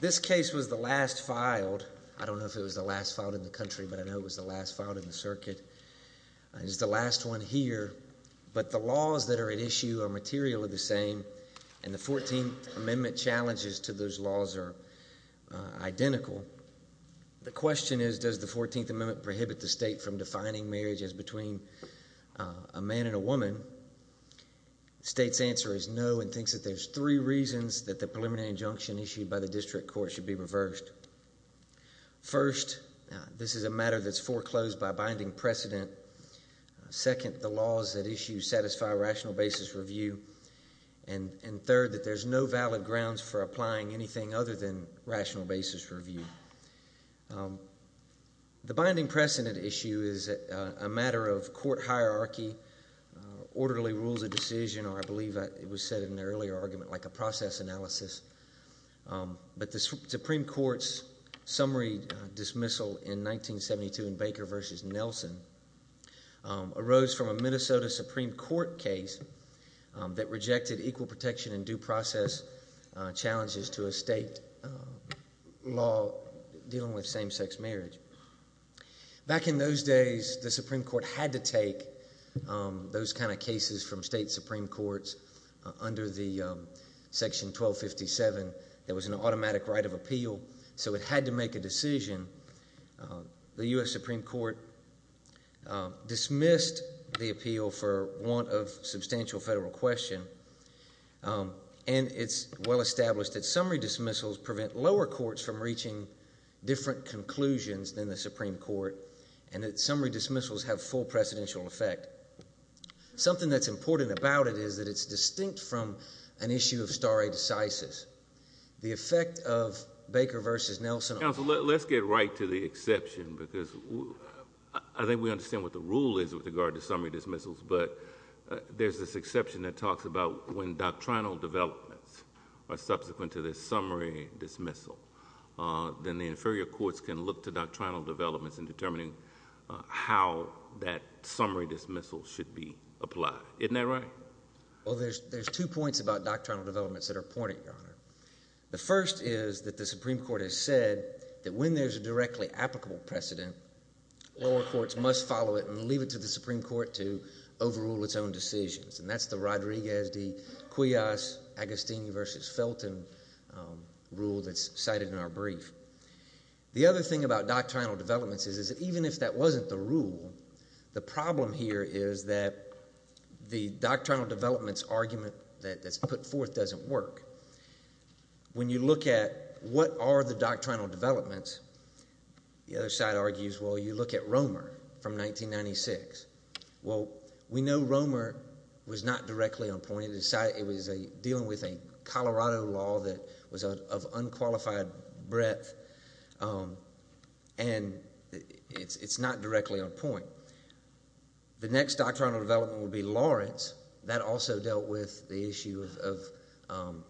This case was the last filed. I don't know if it was the last filed in the country, but I know it was the last filed in the circuit. It's the last one here, but the laws that are at issue are materially the same, and the 14th Amendment challenges to those laws are identical. The question is, does the 14th Amendment prohibit the state from defining marriage as between a man and a woman? The state's answer is no, and thinks that there's three reasons that the preliminary injunction issued by the district court should be reversed. First, this is a matter that's foreclosed by binding precedent. Second, the laws at issue satisfy rational basis review. And third, that there's no valid grounds for applying anything other than rational basis review. The binding precedent issue is a matter of court hierarchy, orderly rules of decision, or I believe it was said in an earlier argument, like a process analysis. But the Supreme Court's summary dismissal in 1972 in Baker v. Nelson arose from a Minnesota Supreme Court case that rejected equal protection and due process challenges to a state law dealing with same-sex marriage. Back in those days, the Supreme Court had to take those kind of cases from state Supreme Courts under the Section 1257. There was an automatic right of appeal, so it had to make a decision. The U.S. Supreme Court dismissed the appeal for want of substantial federal question. And it's well established that summary dismissals prevent lower courts from reaching different conclusions than the Supreme Court, and that summary dismissals have full precedential effect. Something that's important about it is that it's distinct from an issue of stare decisis. The effect of Baker v. Nelson on— Counsel, let's get right to the exception, because I think we understand what the rule is with regard to summary dismissals, but there's this exception that talks about when doctrinal developments are subsequent to this summary dismissal, then the inferior courts can look to doctrinal developments in determining how that summary dismissal should be applied. Isn't that right? Well, there's two points about doctrinal developments that are pointed, Your Honor. The first is that the Supreme Court has said that when there's a directly applicable precedent, lower courts must follow it and leave it to the Supreme Court to overrule its own decisions. And that's the Rodriguez v. Cuias, Agostini v. Felton rule that's cited in our brief. The other thing about doctrinal developments is that even if that wasn't the rule, the problem here is that the doctrinal developments argument that's put forth doesn't work. When you look at what are the doctrinal developments, the other side argues, well, you look at Romer from 1996. Well, we know Romer was not directly on point. It was dealing with a Colorado law that was of unqualified breadth, and it's not directly on point. The next doctrinal development would be Lawrence. That also dealt with the issue of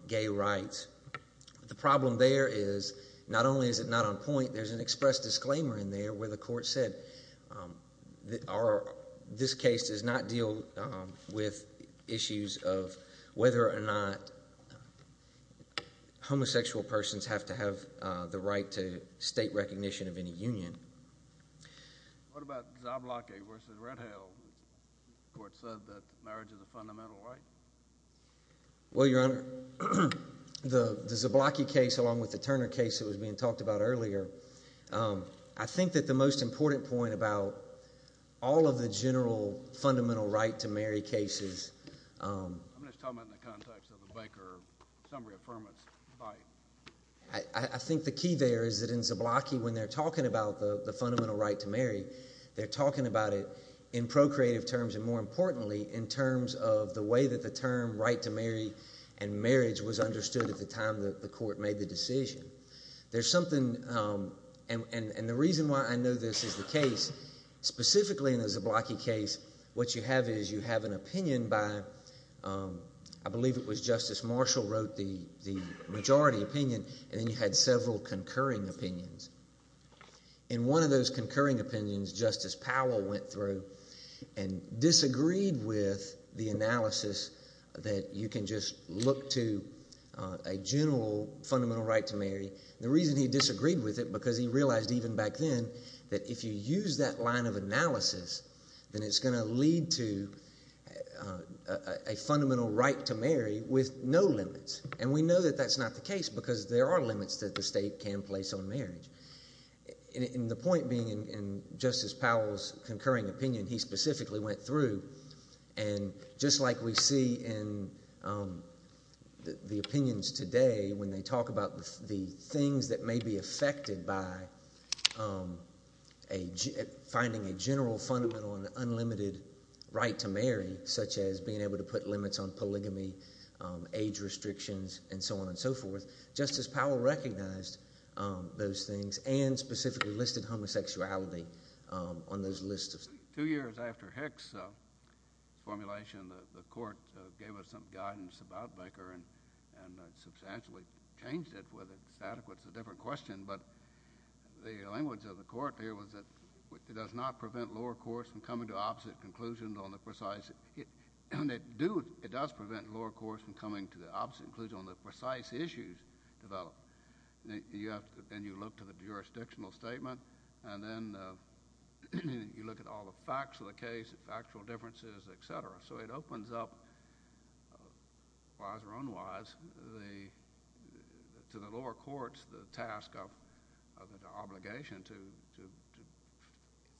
gay rights. The problem there is not only is it not on point, there's an express disclaimer in there where the court said, this case does not deal with issues of whether or not homosexual persons have to have the right to state recognition of any union. What about Zablocki v. Redhill? The court said that marriage is a fundamental right. Well, Your Honor, the Zablocki case along with the Turner case that was being talked about earlier, I think that the most important point about all of the general fundamental right to marry cases – I'm just talking about in the context of a Baker summary affirmance by – I think the key there is that in Zablocki when they're talking about the fundamental right to marry, they're talking about it in procreative terms and, more importantly, in terms of the way that the term right to marry and marriage was understood at the time that the court made the decision. There's something – and the reason why I know this is the case, specifically in the Zablocki case, what you have is you have an opinion by – I believe it was Justice Marshall wrote the majority opinion and then you had several concurring opinions. In one of those concurring opinions, Justice Powell went through and disagreed with the analysis that you can just look to a general fundamental right to marry. The reason he disagreed with it because he realized even back then that if you use that line of analysis, then it's going to lead to a fundamental right to marry with no limits. And we know that that's not the case because there are limits that the state can place on marriage. And the point being in Justice Powell's concurring opinion, he specifically went through and just like we see in the opinions today when they talk about the things that may be affected by finding a general fundamental and unlimited right to marry, such as being able to put limits on polygamy, age restrictions, and so on and so forth, Justice Powell recognized those things and specifically listed homosexuality on those lists. Two years after Hick's formulation, the court gave us some guidance about Becker and substantially changed it whether it's adequate is a different question. But the language of the court here was that it does not prevent lower courts from coming to opposite conclusions on the precise – it does prevent lower courts from coming to the opposite conclusion on the precise issues developed. And you look to the jurisdictional statement and then you look at all the facts of the case, the factual differences, et cetera. So it opens up, wise or unwise, to the lower courts the task of an obligation to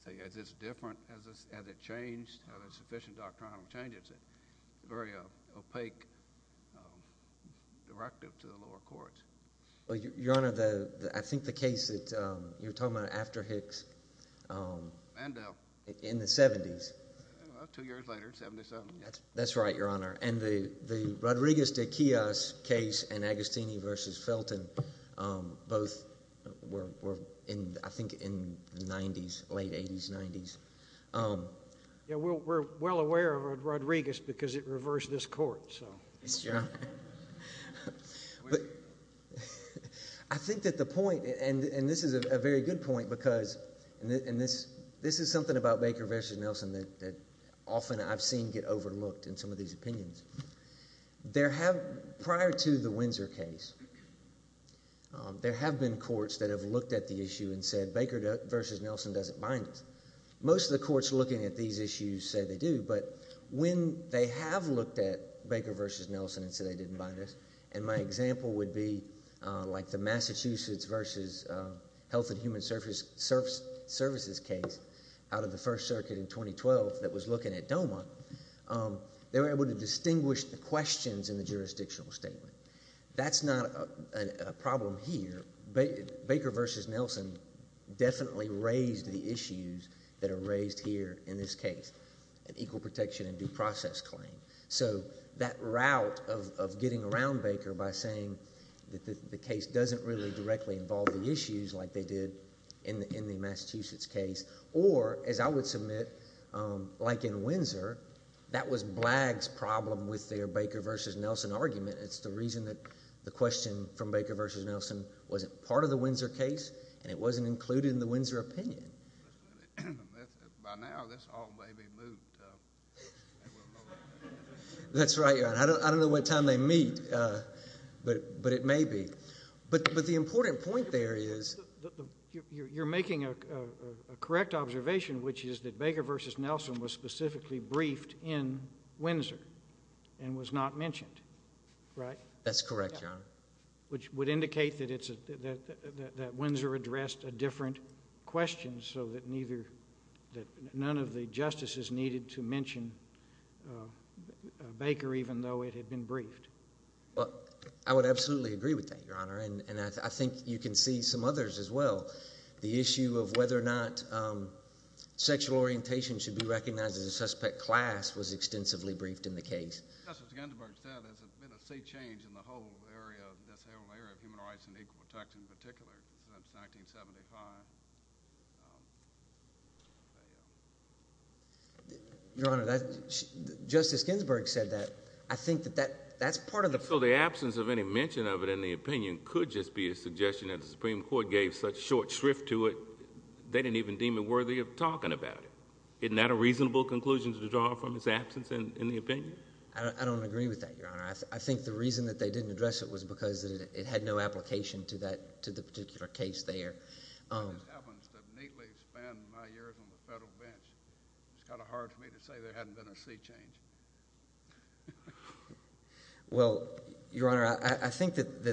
say, is this different, has it changed, have there been sufficient doctrinal changes? It's a very opaque directive to the lower courts. Well, Your Honor, I think the case that you were talking about after Hick's in the 70s. Two years later, 77. That's right, Your Honor. And the Rodriguez de Quilloz case and Agostini v. Felton both were in, I think, in the 90s, late 80s, 90s. We're well aware of Rodriguez because it reversed this court. I think that the point – and this is a very good point because – and this is something about Baker v. Nelson that often I've seen get overlooked in some of these opinions. Prior to the Windsor case, there have been courts that have looked at the issue and said Baker v. Nelson doesn't bind us. Most of the courts looking at these issues say they do, but when they have looked at Baker v. Nelson and said they didn't bind us, and my example would be like the Massachusetts v. Health and Human Services case out of the First Circuit in 2012 that was looking at DOMA, they were able to distinguish the questions in the jurisdictional statement. That's not a problem here. Baker v. Nelson definitely raised the issues that are raised here in this case, an equal protection and due process claim. So that route of getting around Baker by saying that the case doesn't really directly involve the issues like they did in the Massachusetts case or, as I would submit, like in Windsor, that was Blagg's problem with their Baker v. Nelson argument. It's the reason that the question from Baker v. Nelson wasn't part of the Windsor case and it wasn't included in the Windsor opinion. By now, this all may be moot. That's right, Your Honor. I don't know what time they meet, but it may be. But the important point there is you're making a correct observation, which is that Baker v. Nelson was specifically briefed in Windsor and was not mentioned, right? That's correct, Your Honor. Which would indicate that Windsor addressed a different question so that none of the justices needed to mention Baker even though it had been briefed. I would absolutely agree with that, Your Honor, and I think you can see some others as well. The issue of whether or not sexual orientation should be recognized as a suspect class was extensively briefed in the case. Justice Ginsburg said there's been a sea change in the whole area, this whole area of human rights and equal protection in particular since 1975. Your Honor, Justice Ginsburg said that. I think that that's part of the problem. So the absence of any mention of it in the opinion could just be a suggestion that the Supreme Court gave such short shrift to it they didn't even deem it worthy of talking about it. Isn't that a reasonable conclusion to draw from its absence in the opinion? I don't agree with that, Your Honor. I think the reason that they didn't address it was because it had no application to the particular case there. It happens to neatly span my years on the federal bench. It's kind of hard for me to say there hadn't been a sea change. Well, Your Honor, I think that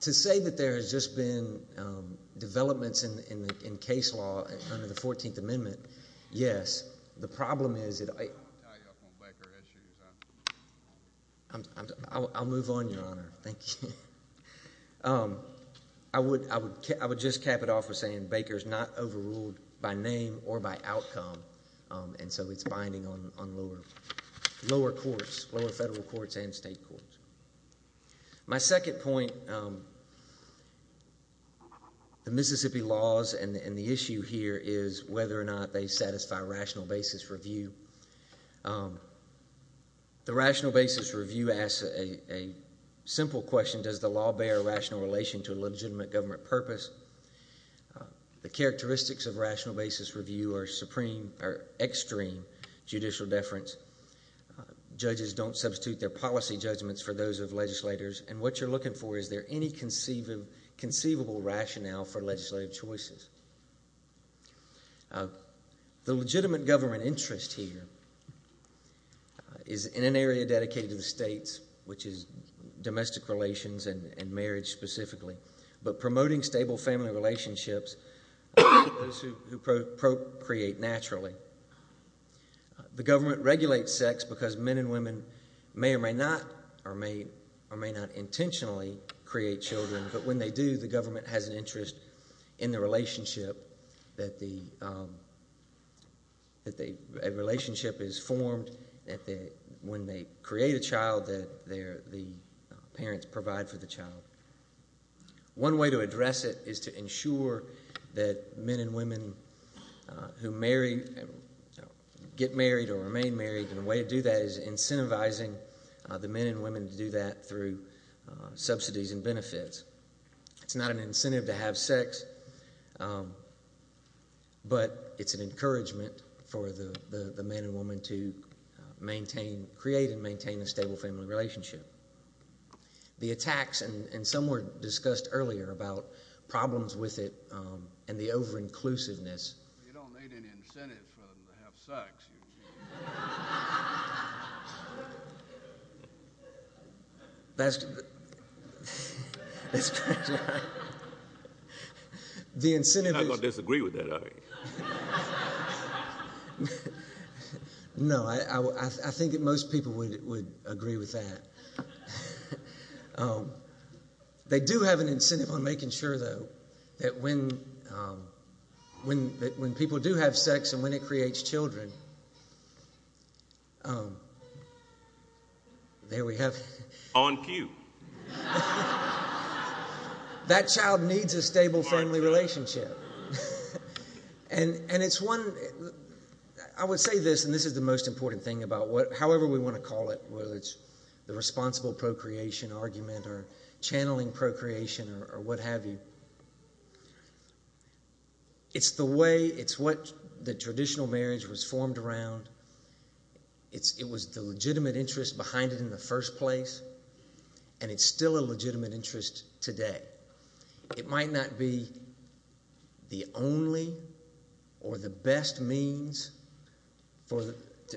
to say that there has just been developments in case law under the 14th Amendment, yes. The problem is that I'll move on, Your Honor. Thank you. I would just cap it off with saying Baker's not overruled by name or by outcome, and so it's binding on lower courts, lower federal courts and state courts. My second point, the Mississippi laws and the issue here is whether or not they satisfy rational basis review. The rational basis review asks a simple question, does the law bear a rational relation to a legitimate government purpose? The characteristics of rational basis review are extreme judicial deference. Judges don't substitute their policy judgments for those of legislators, and what you're looking for is there any conceivable rationale for legislative choices. The legitimate government interest here is in an area dedicated to the states, which is domestic relations and marriage specifically, but promoting stable family relationships, those who procreate naturally. The government regulates sex because men and women may or may not intentionally create children, but when they do, the government has an interest in the relationship that a relationship is formed when they create a child that the parents provide for the child. One way to address it is to ensure that men and women who get married or remain married, and a way to do that is incentivizing the men and women to do that through subsidies and benefits. It's not an incentive to have sex, but it's an encouragement for the men and women to maintain, create and maintain a stable family relationship. The attacks, and some were discussed earlier about problems with it and the over-inclusiveness. You don't need any incentives for them to have sex, do you, Gene? You're not going to disagree with that, are you? No, I think that most people would agree with that. They do have an incentive on making sure, though, that when people do have sex and when it creates children, there we have it. On cue. That child needs a stable family relationship. And it's one, I would say this, and this is the most important thing about it, however we want to call it, whether it's the responsible procreation argument or channeling procreation or what have you. It's the way, it's what the traditional marriage was formed around. It was the legitimate interest behind it in the first place, and it's still a legitimate interest today. It might not be the only or the best means, but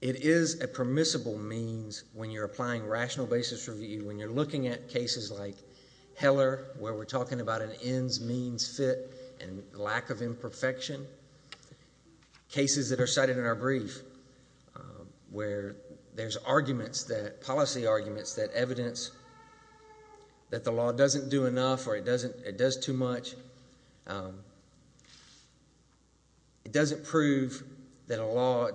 it is a permissible means when you're applying rational basis review, when you're looking at cases like Heller where we're talking about an ends-means fit and lack of imperfection, cases that are cited in our brief where there's arguments, policy arguments that evidence that the law doesn't do enough or it does too much, it doesn't prove that a law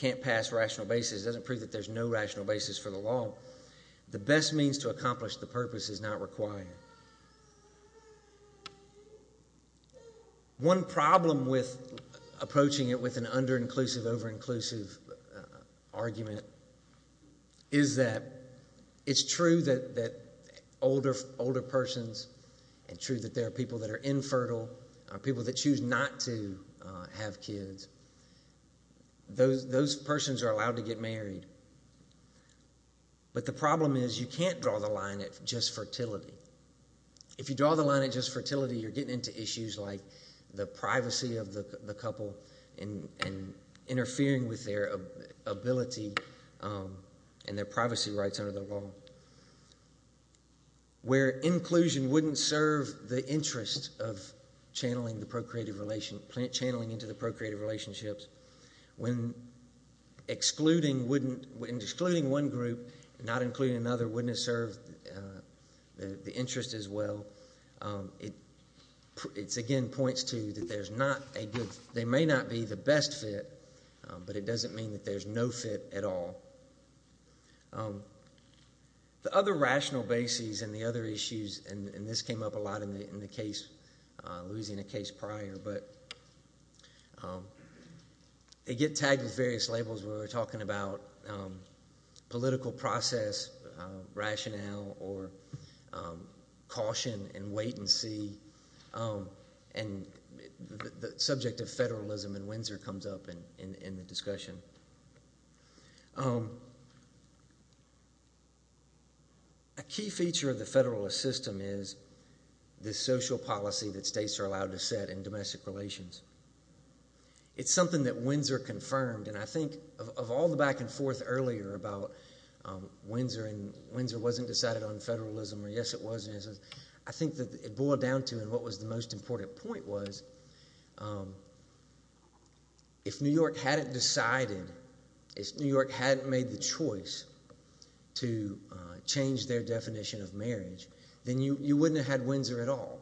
can't pass rational basis, it doesn't prove that there's no rational basis for the law. The best means to accomplish the purpose is not required. One problem with approaching it with an under-inclusive, over-inclusive argument is that it's true that older persons and true that there are people that are infertile, people that choose not to have kids, those persons are allowed to get married. But the problem is you can't draw the line at just fertility. If you draw the line at just fertility, you're getting into issues like the privacy of the couple and interfering with their ability and their privacy rights under the law. Where inclusion wouldn't serve the interest of channeling the procreative – channeling into the procreative relationships, when excluding one group and not including another wouldn't serve the interest as well, it again points to that there's not a good – they may not be the best fit, but it doesn't mean that there's no fit at all. The other rational basis and the other issues, and this came up a lot in the case, Louisiana case prior, but they get tagged with various labels when we're talking about political process, rationale, or caution and wait and see. And the subject of federalism in Windsor comes up in the discussion. A key feature of the federalist system is the social policy that states are allowed to set in domestic relations. It's something that Windsor confirmed, and I think of all the back and forth earlier about Windsor and Windsor wasn't decided on federalism, I think that it boiled down to and what was the most important point was if New York hadn't decided, if New York hadn't made the choice to change their definition of marriage, then you wouldn't have had Windsor at all.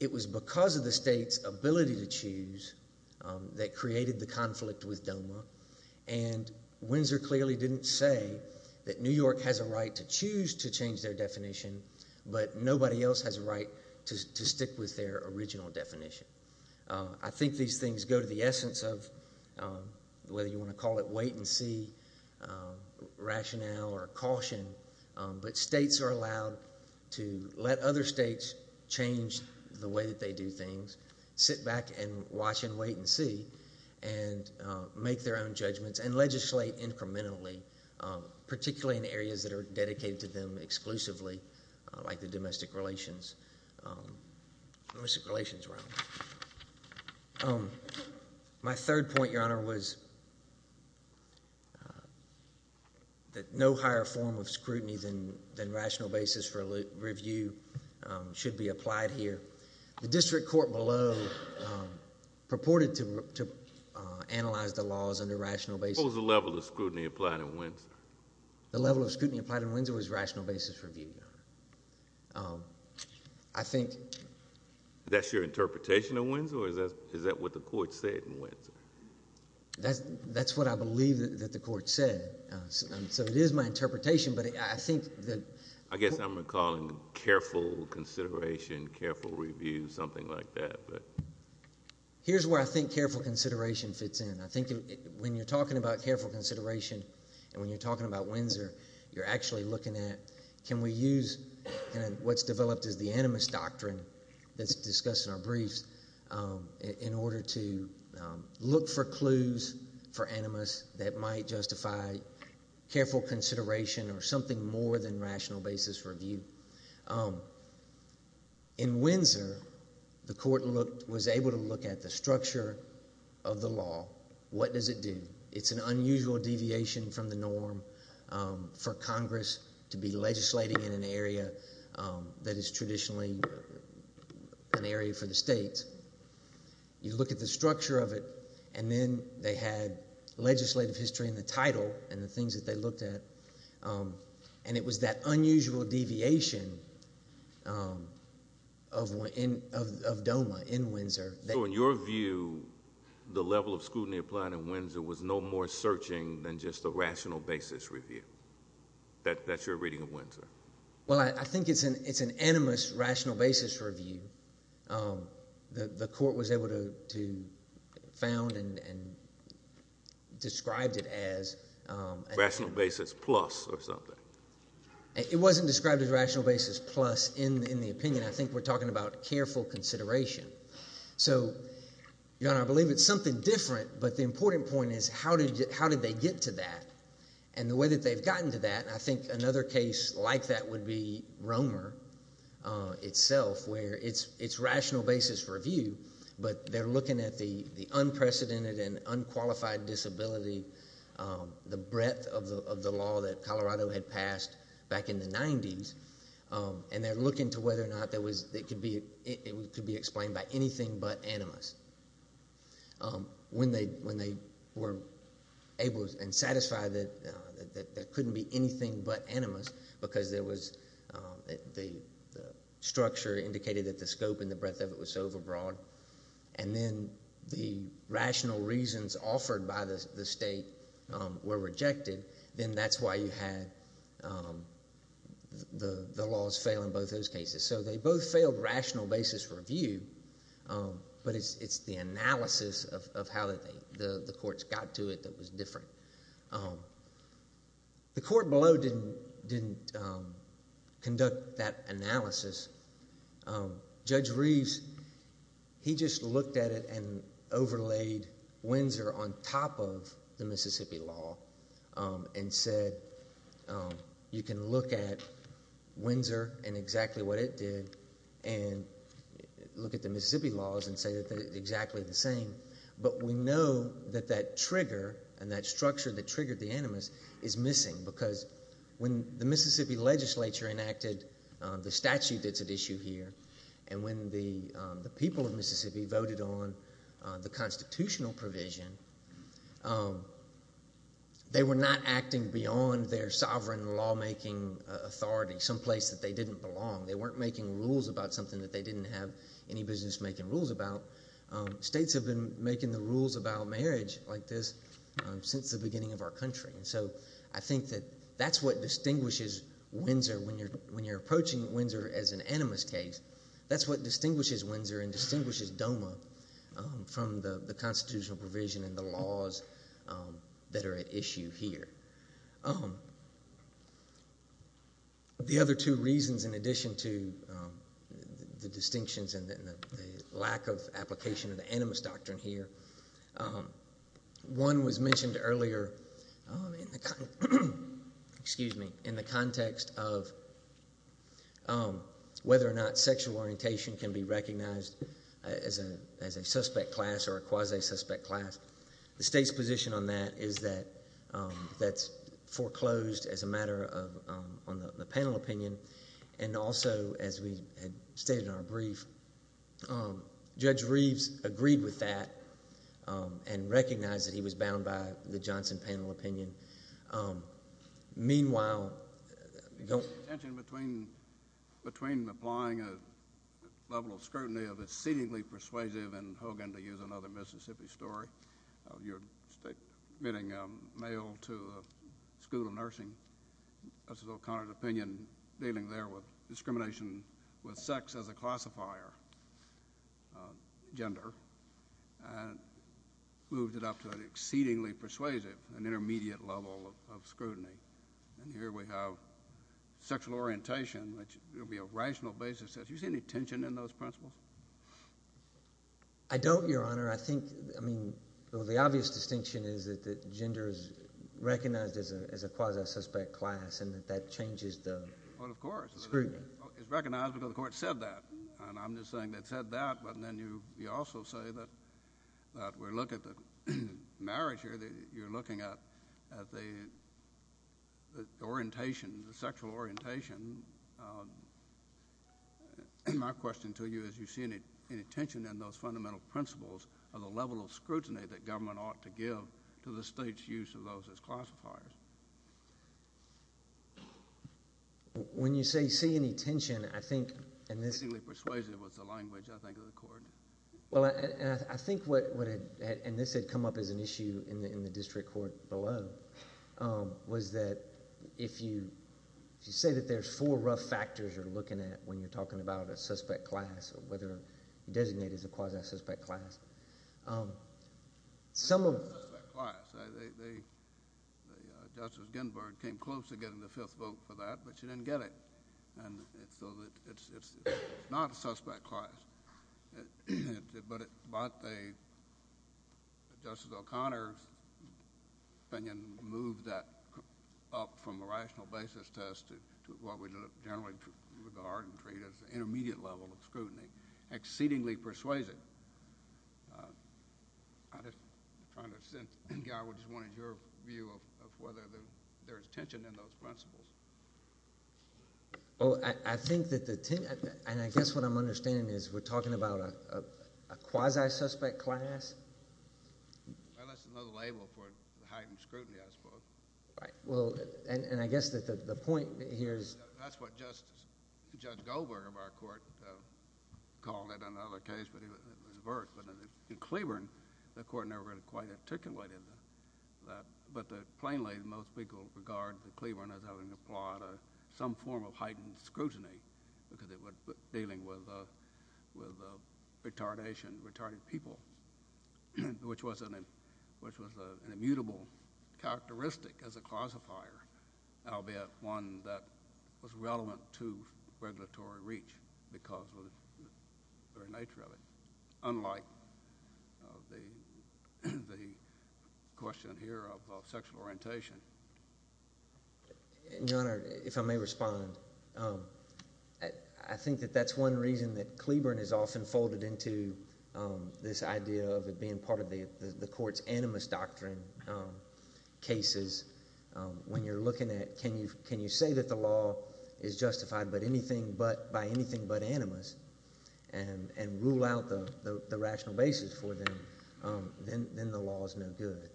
It was because of the state's ability to choose that created the conflict with DOMA, and Windsor clearly didn't say that New York has a right to choose to change their definition, but nobody else has a right to stick with their original definition. I think these things go to the essence of whether you want to call it wait and see, rationale, or caution, but states are allowed to let other states change the way that they do things, sit back and watch and wait and see, and make their own judgments and legislate incrementally, particularly in areas that are dedicated to them exclusively, like the domestic relations realm. My third point, Your Honor, was that no higher form of scrutiny than rational basis for review should be applied here. The district court below purported to analyze the laws under rational basis... What was the level of scrutiny applied in Windsor? The level of scrutiny applied in Windsor was rational basis for review, Your Honor. I think... Is that your interpretation of Windsor, or is that what the court said in Windsor? That's what I believe that the court said, so it is my interpretation, but I think that... I guess I'm recalling careful consideration, careful review, something like that. Here's where I think careful consideration fits in. I think when you're talking about careful consideration and when you're talking about Windsor, you're actually looking at can we use what's developed as the animus doctrine that's discussed in our briefs in order to look for clues for animus that might justify careful consideration or something more than rational basis for review. In Windsor, the court was able to look at the structure of the law. What does it do? It's an unusual deviation from the norm for Congress to be legislating in an area that is traditionally an area for the states. You look at the structure of it, and then they had legislative history in the title and the things that they looked at, and it was that unusual deviation of DOMA in Windsor. So in your view, the level of scrutiny applied in Windsor was no more searching than just a rational basis review. That's your reading of Windsor. Well, I think it's an animus rational basis review. The court was able to found and described it as. Rational basis plus or something. It wasn't described as rational basis plus in the opinion. I think we're talking about careful consideration. So, Your Honor, I believe it's something different, but the important point is how did they get to that? And the way that they've gotten to that, and I think another case like that would be Romer itself, where it's rational basis review, but they're looking at the unprecedented and unqualified disability, the breadth of the law that Colorado had passed back in the 90s, and they're looking to whether or not it could be explained by anything but animus. When they were able and satisfied that there couldn't be anything but animus because the structure indicated that the scope and the breadth of it was so overbroad, and then the rational reasons offered by the state were rejected, then that's why you had the laws fail in both those cases. So they both failed rational basis review, but it's the analysis of how the courts got to it that was different. The court below didn't conduct that analysis. Judge Reeves, he just looked at it and overlaid Windsor on top of the Mississippi law and said you can look at Windsor and exactly what it did and look at the Mississippi laws and say that they're exactly the same, but we know that that trigger and that structure that triggered the animus is missing because when the Mississippi legislature enacted the statute that's at issue here and when the people of Mississippi voted on the constitutional provision, they were not acting beyond their sovereign lawmaking authority someplace that they didn't belong. They weren't making rules about something that they didn't have any business making rules about. States have been making the rules about marriage like this since the beginning of our country, and so I think that that's what distinguishes Windsor when you're approaching Windsor as an animus case. That's what distinguishes Windsor and distinguishes DOMA from the constitutional provision and the laws that are at issue here. The other two reasons in addition to the distinctions and the lack of application of the animus doctrine here, one was mentioned earlier in the context of whether or not sexual orientation can be recognized as a suspect class or a quasi-suspect class. The state's position on that is that that's foreclosed as a matter of the panel opinion, and also, as we had stated in our brief, Judge Reeves agreed with that and recognized that he was bound by the Johnson panel opinion. Meanwhile, the tension between applying a level of scrutiny of exceedingly persuasive and, Hogan, to use another Mississippi story, you're admitting a male to a school of nursing. That's O'Connor's opinion dealing there with discrimination with sex as a classifier gender and moved it up to an exceedingly persuasive and intermediate level of scrutiny, and here we have sexual orientation, which would be a rational basis. Do you see any tension in those principles? I don't, Your Honor. I think, I mean, the obvious distinction is that gender is recognized as a quasi-suspect class and that that changes the scrutiny. Well, of course. It's recognized because the court said that, and I'm just saying it said that, but then you also say that we're looking at the marriage here. You're looking at the orientation, the sexual orientation. My question to you is do you see any tension in those fundamental principles of the level of scrutiny that government ought to give to the state's use of those as classifiers? When you say you see any tension, I think in this— Exceedingly persuasive was the language, I think, of the court. Well, I think what had—and this had come up as an issue in the district court below— if you say that there's four rough factors you're looking at when you're talking about a suspect class or whether designated as a quasi-suspect class, some of— It's not a suspect class. Justice Ginsburg came close to getting the fifth vote for that, but she didn't get it. And so it's not a suspect class. But Justice O'Connor's opinion moved that up from a rational basis test to what we generally regard and treat as the intermediate level of scrutiny. Exceedingly persuasive. I'm just trying to—Guy, I just wanted your view of whether there's tension in those principles. Well, I think that the—and I guess what I'm understanding is we're talking about a quasi-suspect class? Well, that's another label for heightened scrutiny, I suppose. Right. Well, and I guess that the point here is— That's what Justice—Judge Goldberg of our court called it in another case, but it was avert. But in Cleburne, the court never really quite articulated that. But plainly, most people regard Cleburne as having applied some form of heightened scrutiny because it was dealing with retardation, retarded people, which was an immutable characteristic as a classifier, albeit one that was relevant to regulatory reach because of the very nature of it. Unlike the question here of sexual orientation. Your Honor, if I may respond. I think that that's one reason that Cleburne is often folded into this idea of it being part of the court's animus doctrine cases. When you're looking at can you say that the law is justified by anything but animus and rule out the rational basis for them, then the law is no good.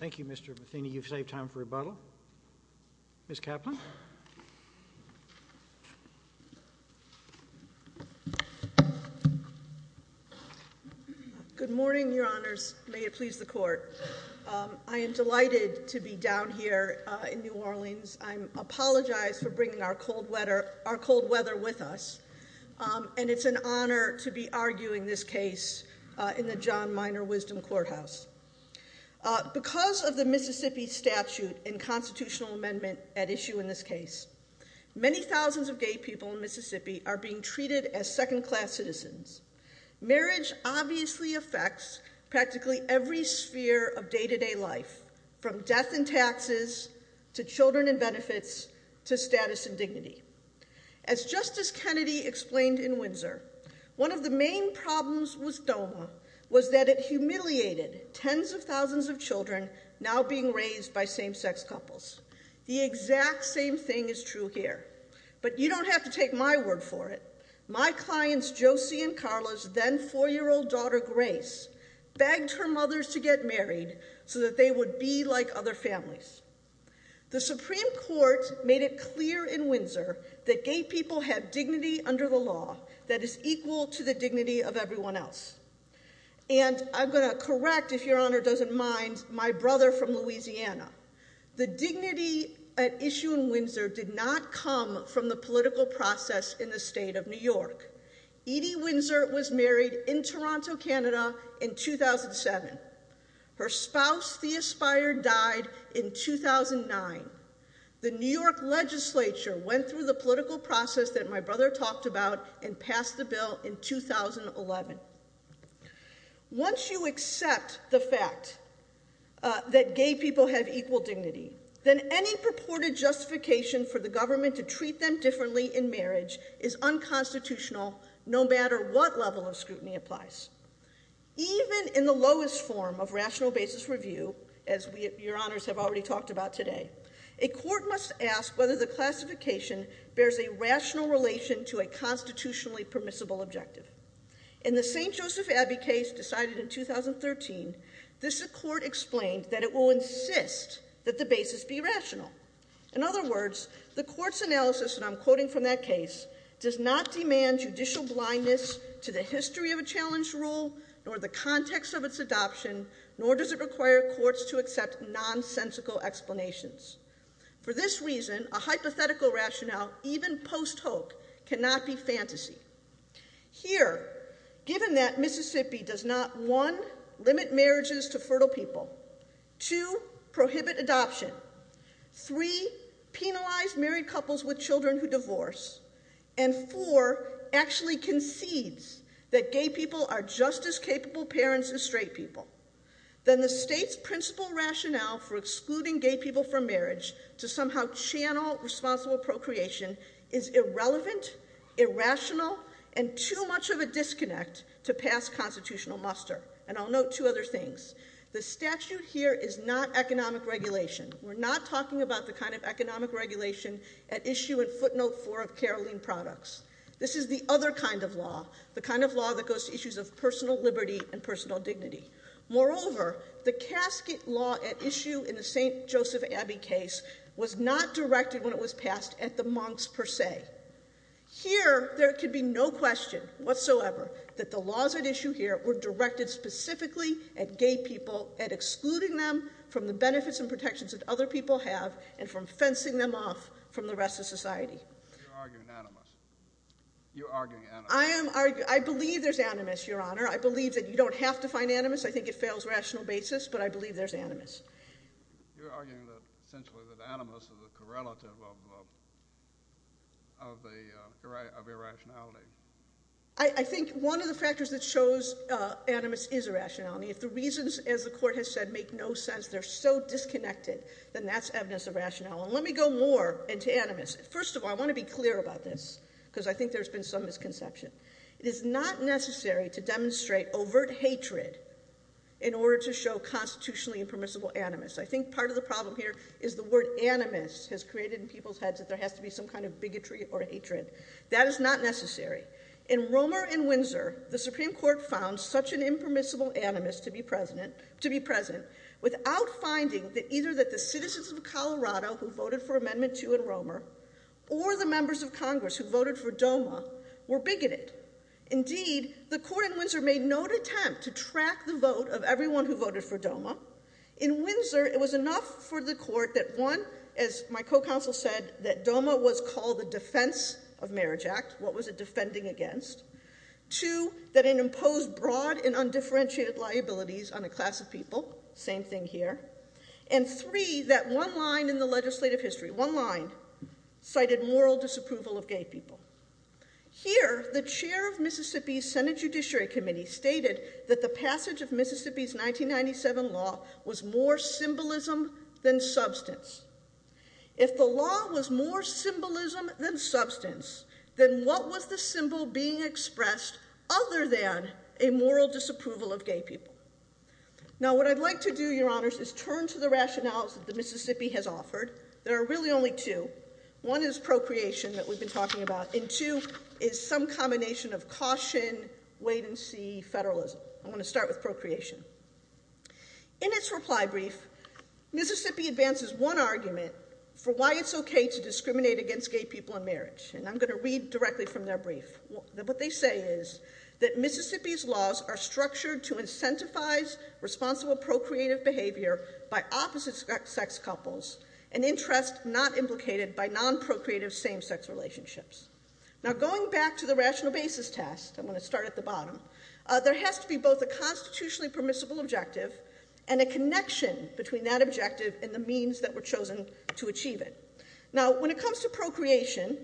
Thank you, Mr. Matheny. You've saved time for rebuttal. Ms. Kaplan. Good morning, Your Honors. May it please the Court. I am delighted to be down here in New Orleans. I apologize for bringing our cold weather with us. And it's an honor to be arguing this case in the John Minor Wisdom Courthouse. Because of the Mississippi statute and constitutional amendment at issue in this case, many thousands of gay people in Mississippi are being treated as second-class citizens. Marriage obviously affects practically every sphere of day-to-day life, from death and taxes to children and benefits to status and dignity. As Justice Kennedy explained in Windsor, one of the main problems with DOMA was that it humiliated tens of thousands of children now being raised by same-sex couples. The exact same thing is true here. But you don't have to take my word for it. My clients, Josie and Carla's then four-year-old daughter, Grace, begged her mothers to get married so that they would be like other families. The Supreme Court made it clear in Windsor that gay people have dignity under the law that is equal to the dignity of everyone else. And I'm going to correct, if Your Honor doesn't mind, my brother from Louisiana. The dignity at issue in Windsor did not come from the political process in the state of New York. Edie Windsor was married in Toronto, Canada in 2007. Her spouse, Thea Speyer, died in 2009. The New York legislature went through the political process that my brother talked about and passed the bill in 2011. Once you accept the fact that gay people have equal dignity, then any purported justification for the government to treat them differently in marriage is unconstitutional, no matter what level of scrutiny applies. Even in the lowest form of rational basis review, as Your Honors have already talked about today, a court must ask whether the classification bears a rational relation to a constitutionally permissible objective. In the St. Joseph Abbey case decided in 2013, this court explained that it will insist that the basis be rational. In other words, the court's analysis, and I'm quoting from that case, does not demand judicial blindness to the history of a challenge rule, nor the context of its adoption, nor does it require courts to accept nonsensical explanations. For this reason, a hypothetical rationale, even post-hoc, cannot be fantasy. Here, given that Mississippi does not, one, limit marriages to fertile people, two, prohibit adoption, three, penalize married couples with children who divorce, and four, actually concedes that gay people are just as capable parents as straight people, then the state's principal rationale for excluding gay people from marriage to somehow channel responsible procreation is irrelevant, irrational, and too much of a disconnect to pass constitutional muster. And I'll note two other things. The statute here is not economic regulation. We're not talking about the kind of economic regulation at issue in footnote four of Caroline Products. This is the other kind of law, the kind of law that goes to issues of personal liberty and personal dignity. Moreover, the casket law at issue in the St. Joseph Abbey case was not directed when it was passed at the monks per se. Here, there can be no question whatsoever that the laws at issue here were directed specifically at gay people, at excluding them from the benefits and protections that other people have, But you're arguing animus. You're arguing animus. I believe there's animus, Your Honor. I believe that you don't have to find animus. I think it fails rational basis, but I believe there's animus. You're arguing essentially that animus is a correlative of irrationality. I think one of the factors that shows animus is irrationality, if the reasons, as the court has said, make no sense, they're so disconnected, then that's evidence of rationality. Let me go more into animus. First of all, I want to be clear about this, because I think there's been some misconception. It is not necessary to demonstrate overt hatred in order to show constitutionally impermissible animus. I think part of the problem here is the word animus has created in people's heads that there has to be some kind of bigotry or hatred. That is not necessary. In Romer and Windsor, the Supreme Court found such an impermissible animus to be present without finding that either the citizens of Colorado who voted for Amendment 2 in Romer or the members of Congress who voted for DOMA were bigoted. Indeed, the court in Windsor made no attempt to track the vote of everyone who voted for DOMA. In Windsor, it was enough for the court that, one, as my co-counsel said, that DOMA was called the Defense of Marriage Act. What was it defending against? Two, that it imposed broad and undifferentiated liabilities on a class of people. Same thing here. And three, that one line in the legislative history, one line, cited moral disapproval of gay people. Here, the chair of Mississippi's Senate Judiciary Committee stated that the passage of Mississippi's 1997 law was more symbolism than substance. If the law was more symbolism than substance, then what was the symbol being expressed other than a moral disapproval of gay people? Now, what I'd like to do, Your Honors, is turn to the rationales that Mississippi has offered. There are really only two. One is procreation that we've been talking about, and two is some combination of caution, wait and see, federalism. I want to start with procreation. In its reply brief, Mississippi advances one argument for why it's okay to discriminate against gay people in marriage, and I'm going to read directly from their brief. What they say is that Mississippi's laws are structured to incentivize responsible procreative behavior by opposite-sex couples, an interest not implicated by non-procreative same-sex relationships. Now, going back to the rational basis test, I'm going to start at the bottom, there has to be both a constitutionally permissible objective and a connection between that objective and the means that were chosen to achieve it. Now, when it comes to procreation,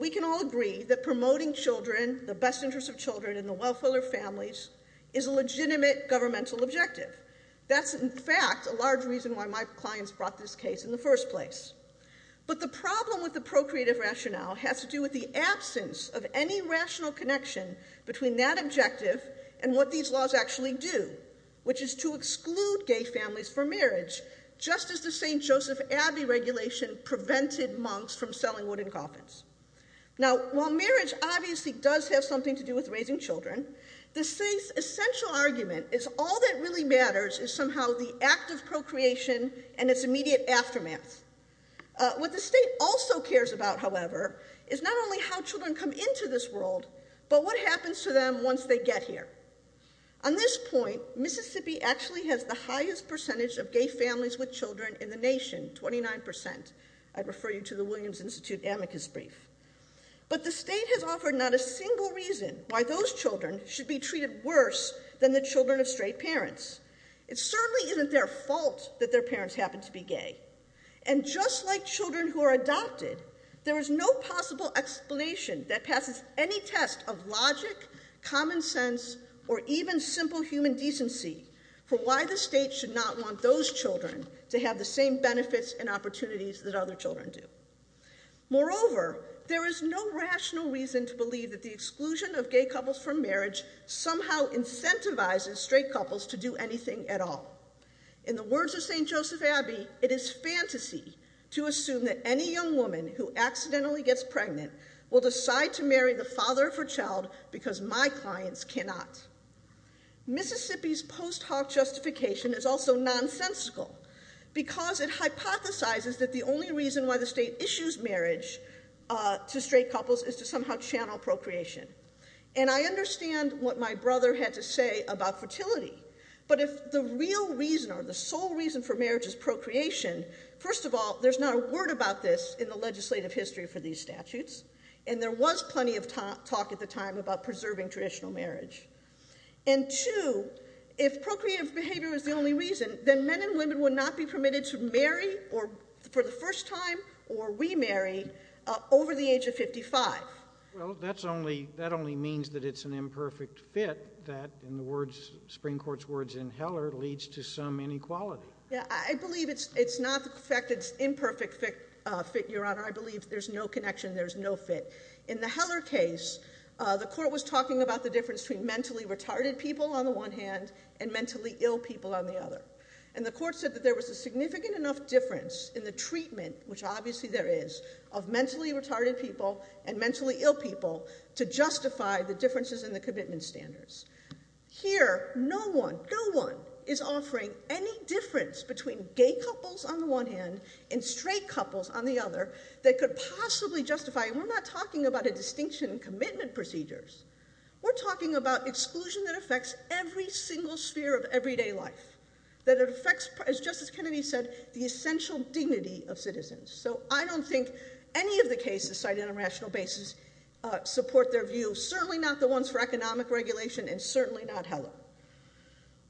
we can all agree that promoting children, the best interests of children and the wealth of their families, is a legitimate governmental objective. That's, in fact, a large reason why my clients brought this case in the first place. But the problem with the procreative rationale has to do with the absence of any rational connection between that objective and what these laws actually do, which is to exclude gay families from marriage, just as the St. Joseph Abbey regulation prevented monks from selling wooden coffins. Now, while marriage obviously does have something to do with raising children, the state's essential argument is all that really matters is somehow the act of procreation and its immediate aftermath. What the state also cares about, however, is not only how children come into this world, but what happens to them once they get here. On this point, Mississippi actually has the highest percentage of gay families with children in the nation, 29%. I'd refer you to the Williams Institute amicus brief. But the state has offered not a single reason why those children should be treated worse than the children of straight parents. It certainly isn't their fault that their parents happen to be gay. And just like children who are adopted, there is no possible explanation that passes any test of logic, common sense, or even simple human decency for why the state should not want those children to have the same benefits and opportunities that other children do. Moreover, there is no rational reason to believe that the exclusion of gay couples from marriage somehow incentivizes straight couples to do anything at all. In the words of St. Joseph Abbey, it is fantasy to assume that any young woman who accidentally gets pregnant will decide to marry the father of her child because my clients cannot. Mississippi's post hoc justification is also nonsensical because it hypothesizes that the only reason why the state issues marriage to straight couples is to somehow channel procreation. And I understand what my brother had to say about fertility, but if the real reason or the sole reason for marriage is procreation, first of all, there's not a word about this in the legislative history for these statutes, and there was plenty of talk at the time about preserving traditional marriage. And two, if procreative behavior is the only reason, then men and women would not be permitted to marry for the first time or remarry over the age of 55. Well, that only means that it's an imperfect fit that, in the words, Supreme Court's words in Heller, leads to some inequality. Yeah, I believe it's not the fact that it's an imperfect fit, Your Honor. I believe there's no connection, there's no fit. In the Heller case, the court was talking about the difference between mentally retarded people on the one hand and mentally ill people on the other. And the court said that there was a significant enough difference in the treatment, which obviously there is, of mentally retarded people and mentally ill people to justify the differences in the commitment standards. Here, no one, no one is offering any difference between gay couples on the one hand and straight couples on the other that could possibly justify it. We're not talking about a distinction in commitment procedures. We're talking about exclusion that affects every single sphere of everyday life, that affects, as Justice Kennedy said, the essential dignity of citizens. So I don't think any of the cases cited on a rational basis support their view, certainly not the ones for economic regulation and certainly not Heller.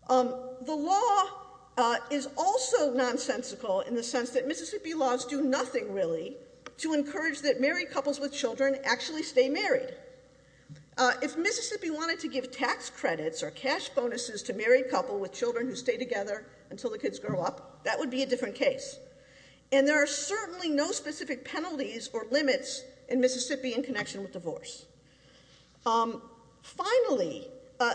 The law is also nonsensical in the sense that Mississippi laws do nothing, really, to encourage that married couples with children actually stay married. If Mississippi wanted to give tax credits or cash bonuses to married couples with children who stay together until the kids grow up, that would be a different case. And there are certainly no specific penalties or limits in Mississippi in connection with divorce. Finally,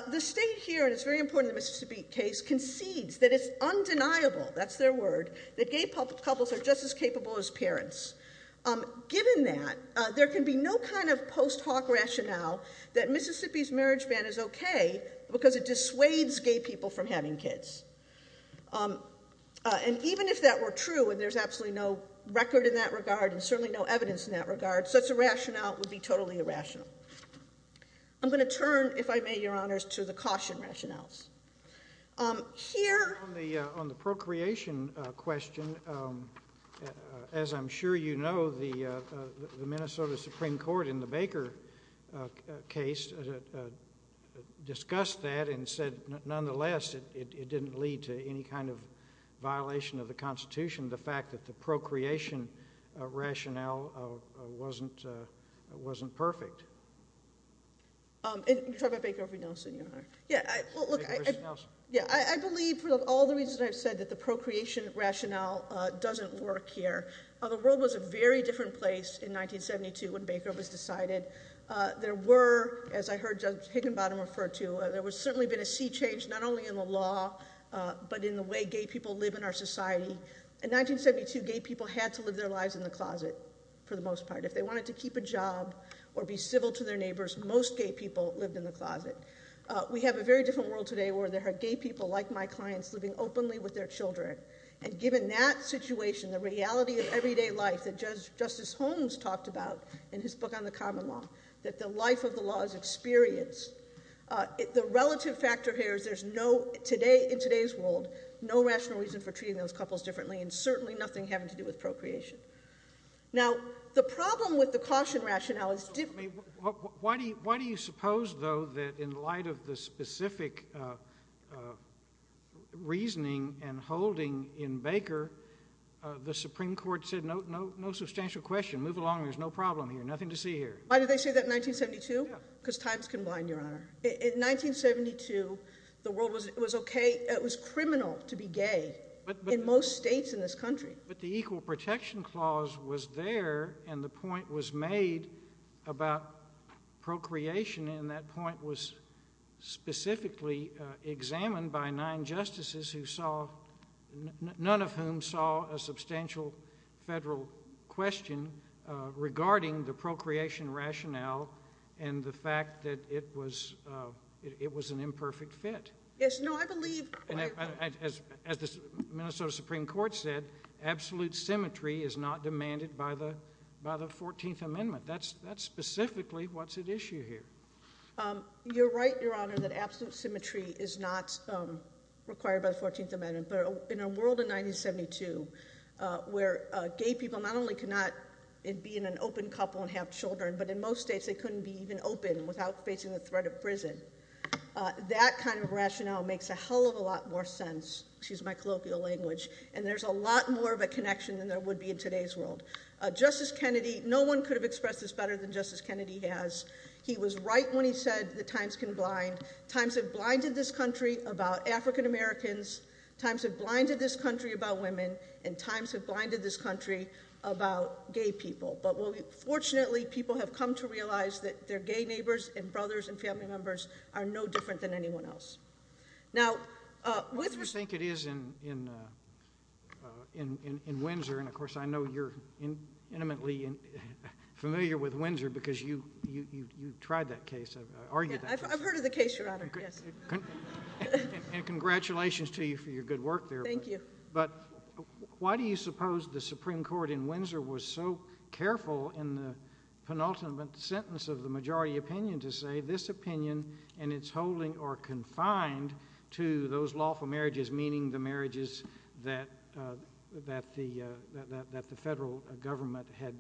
the state here, and it's very important in the Mississippi case, concedes that it's undeniable, that's their word, that gay couples are just as capable as parents. Given that, there can be no kind of post hoc rationale that Mississippi's marriage ban is okay because it dissuades gay people from having kids. And even if that were true, and there's absolutely no record in that regard and certainly no evidence in that regard, such a rationale would be totally irrational. I'm going to turn, if I may, Your Honors, to the caution rationales. Here... On the procreation question, as I'm sure you know, the Minnesota Supreme Court in the Baker case discussed that and said, nonetheless, it didn't lead to any kind of violation of the Constitution, the fact that the procreation rationale wasn't perfect. You're talking about Baker v. Nelson, Your Honor. Baker v. Nelson. I believe, for all the reasons I've said, that the procreation rationale doesn't work here. The world was a very different place in 1972 when Baker was decided. There were, as I heard Judge Higginbottom refer to, there was certainly been a sea change, not only in the law, but in the way gay people live in our society. In 1972, gay people had to live their lives in the closet for the most part. If they wanted to keep a job or be civil to their neighbors, most gay people lived in the closet. We have a very different world today where there are gay people like my clients living openly with their children. And given that situation, the reality of everyday life that Justice Holmes talked about in his book on the common law, that the life of the law is experienced, the relative factor here is there's no, in today's world, no rational reason for treating those couples differently and certainly nothing having to do with procreation. Now, the problem with the caution rationale is different. Why do you suppose, though, that in light of the specific reasoning and holding in Baker, the Supreme Court said no substantial question, move along, there's no problem here, nothing to see here? Why did they say that in 1972? Because times can bind, Your Honor. In 1972, the world was okay, it was criminal to be gay in most states in this country. But the Equal Protection Clause was there and the point was made about procreation and that point was specifically examined by nine justices who saw, none of whom saw a substantial federal question regarding the procreation rationale and the fact that it was an imperfect fit. As the Minnesota Supreme Court said, absolute symmetry is not demanded by the 14th Amendment. That's specifically what's at issue here. You're right, Your Honor, that absolute symmetry is not required by the 14th Amendment. But in a world in 1972 where gay people not only could not be in an open couple and have children, but in most states they couldn't be even open without facing the threat of prison, that kind of rationale makes a hell of a lot more sense. Excuse my colloquial language. And there's a lot more of a connection than there would be in today's world. Justice Kennedy, no one could have expressed this better than Justice Kennedy has. He was right when he said that times can bind. Times have blinded this country about African Americans, times have blinded this country about women, and times have blinded this country about gay people. But fortunately people have come to realize that their gay neighbors and brothers and family members are no different than anyone else. What do you think it is in Windsor, and of course I know you're intimately familiar with Windsor because you've tried that case, argued that case. I've heard of the case, Your Honor, yes. And congratulations to you for your good work there. Thank you. But why do you suppose the Supreme Court in Windsor was so careful in the penultimate sentence of the majority opinion to say this opinion and its holding are confined to those lawful marriages, meaning the marriages that the federal government had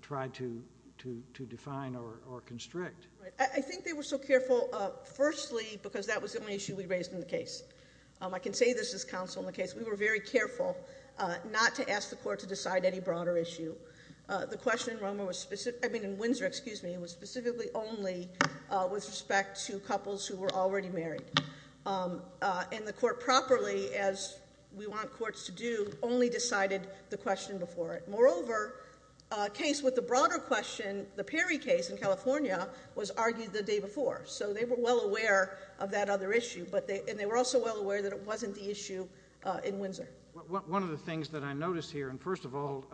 tried to define or constrict? I think they were so careful, firstly, because that was the only issue we raised in the case. I can say this as counsel in the case. We were very careful not to ask the court to decide any broader issue. The question in Windsor was specifically only with respect to couples who were already married. And the court properly, as we want courts to do, only decided the question before it. Moreover, a case with the broader question, the Perry case in California, was argued the day before. So they were well aware of that other issue, and they were also well aware that it wasn't the issue in Windsor. One of the things that I notice here, and first of all,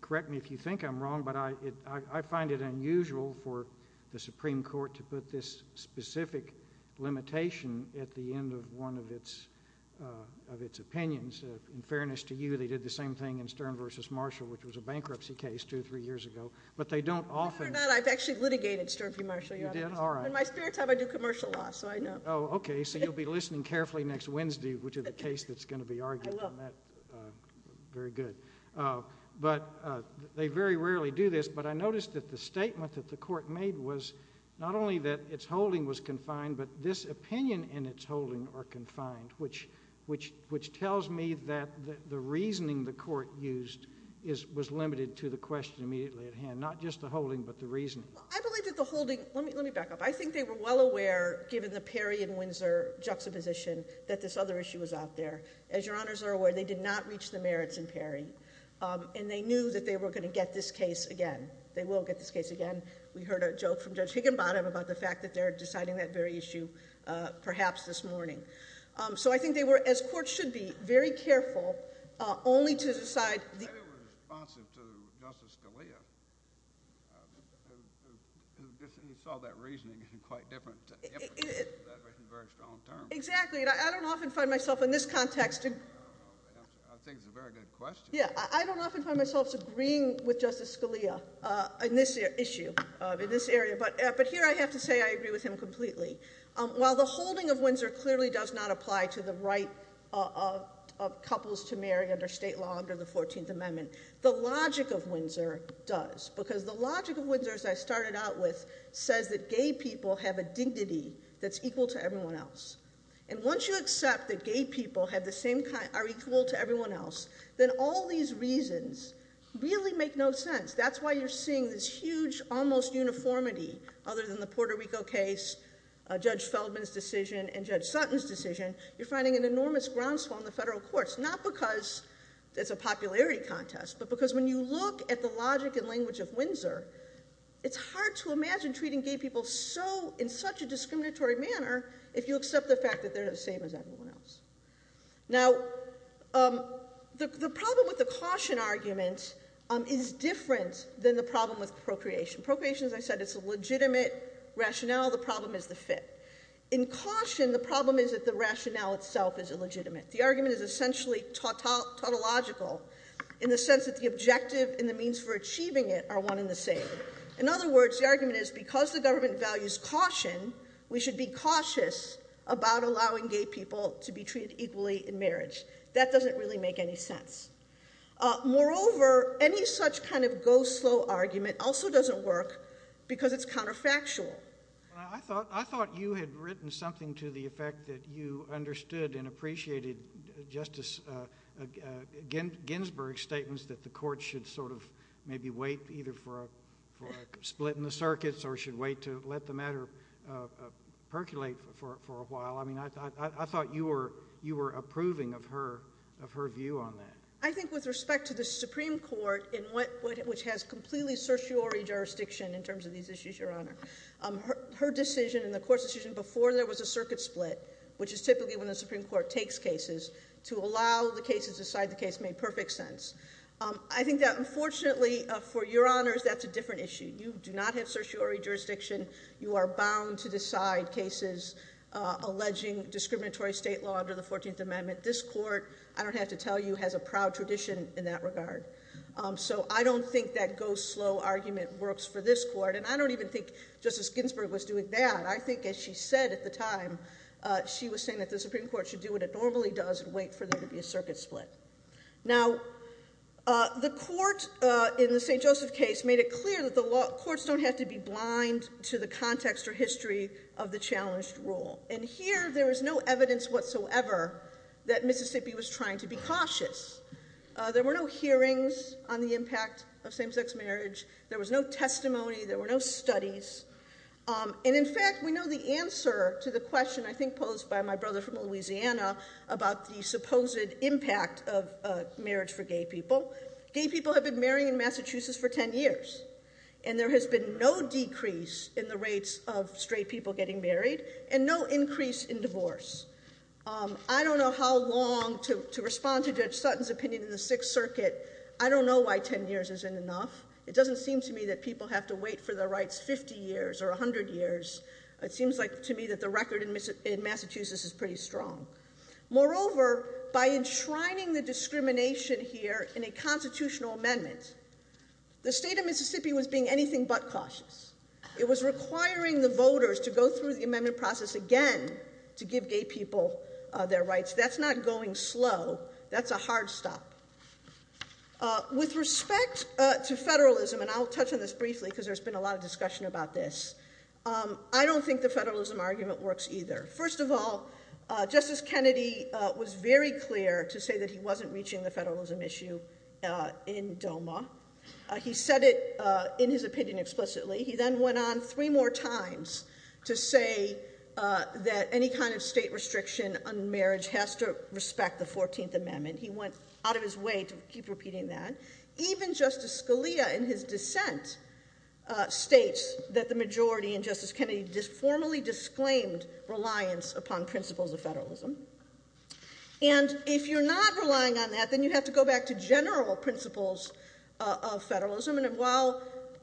correct me if you think I'm wrong, but I find it unusual for the Supreme Court to put this specific limitation at the end of one of its opinions. In fairness to you, they did the same thing in Stern v. Marshall, which was a bankruptcy case two or three years ago. But they don't often— Believe it or not, I've actually litigated Stern v. Marshall, Your Honor. You did? All right. In my spare time, I do commercial law, so I know. Oh, okay, so you'll be listening carefully next Wednesday to the case that's going to be argued. I will. Very good. But they very rarely do this, but I noticed that the statement that the court made was not only that its holding was confined, but this opinion and its holding are confined, which tells me that the reasoning the court used was limited to the question immediately at hand, not just the holding but the reasoning. I believe that the holding—let me back up. I think they were well aware, given the Perry v. Windsor juxtaposition, that this other issue was out there. As Your Honors are aware, they did not reach the merits in Perry, and they knew that they were going to get this case again. They will get this case again. We heard a joke from Judge Higginbottom about the fact that they're deciding that very issue perhaps this morning. So I think they were, as courts should be, very careful only to decide— They were responsive to Justice Scalia, who saw that reasoning in quite different—in very strong terms. Exactly. I don't often find myself in this context— I think it's a very good question. Yeah. I don't often find myself agreeing with Justice Scalia in this issue, in this area. But here I have to say I agree with him completely. While the holding of Windsor clearly does not apply to the right of couples to marry under state law under the 14th Amendment, the logic of Windsor does. Because the logic of Windsor, as I started out with, says that gay people have a dignity that's equal to everyone else. And once you accept that gay people are equal to everyone else, then all these reasons really make no sense. That's why you're seeing this huge almost uniformity other than the Puerto Rico case, Judge Feldman's decision, and Judge Sutton's decision. You're finding an enormous groundswell in the federal courts. Not because it's a popularity contest, but because when you look at the logic and language of Windsor, it's hard to imagine treating gay people in such a discriminatory manner if you accept the fact that they're the same as everyone else. Now, the problem with the caution argument is different than the problem with procreation. Procreation, as I said, is a legitimate rationale. The problem is the fit. In caution, the problem is that the rationale itself is illegitimate. The argument is essentially tautological in the sense that the objective and the means for achieving it are one and the same. In other words, the argument is because the government values caution, we should be cautious about allowing gay people to be treated equally in marriage. That doesn't really make any sense. Moreover, any such kind of go-slow argument also doesn't work because it's counterfactual. I thought you had written something to the effect that you understood and appreciated Justice Ginsburg's statements that the court should sort of maybe wait either for a split in the circuits or should wait to let the matter percolate for a while. I mean, I thought you were approving of her view on that. I think with respect to the Supreme Court, which has completely certiorari jurisdiction in terms of these issues, Your Honor, her decision and the court's decision before there was a circuit split, which is typically when the Supreme Court takes cases, to allow the cases to decide the case made perfect sense. I think that, unfortunately, for Your Honors, that's a different issue. You do not have certiorari jurisdiction. You are bound to decide cases alleging discriminatory state law under the 14th Amendment. This court, I don't have to tell you, has a proud tradition in that regard. So I don't think that go-slow argument works for this court, and I don't even think Justice Ginsburg was doing that. I think, as she said at the time, she was saying that the Supreme Court should do what it normally does and wait for there to be a circuit split. Now, the court in the St. Joseph case made it clear that the courts don't have to be blind to the context or history of the challenged rule. And here, there is no evidence whatsoever that Mississippi was trying to be cautious. There were no hearings on the impact of same-sex marriage. There was no testimony. There were no studies. And, in fact, we know the answer to the question, I think posed by my brother from Louisiana, about the supposed impact of marriage for gay people. Gay people have been marrying in Massachusetts for ten years, and there has been no decrease in the rates of straight people getting married and no increase in divorce. I don't know how long, to respond to Judge Sutton's opinion in the Sixth Circuit, I don't know why ten years isn't enough. It doesn't seem to me that people have to wait for their rights 50 years or 100 years. It seems to me that the record in Massachusetts is pretty strong. Moreover, by enshrining the discrimination here in a constitutional amendment, the state of Mississippi was being anything but cautious. It was requiring the voters to go through the amendment process again to give gay people their rights. That's not going slow. That's a hard stop. With respect to federalism, and I'll touch on this briefly because there's been a lot of discussion about this, I don't think the federalism argument works either. First of all, Justice Kennedy was very clear to say that he wasn't reaching the federalism issue in DOMA. He said it in his opinion explicitly. He then went on three more times to say that any kind of state restriction on marriage has to respect the 14th Amendment. He went out of his way to keep repeating that. Even Justice Scalia in his dissent states that the majority in Justice Kennedy formally disclaimed reliance upon principles of federalism. If you're not relying on that, then you have to go back to general principles of federalism.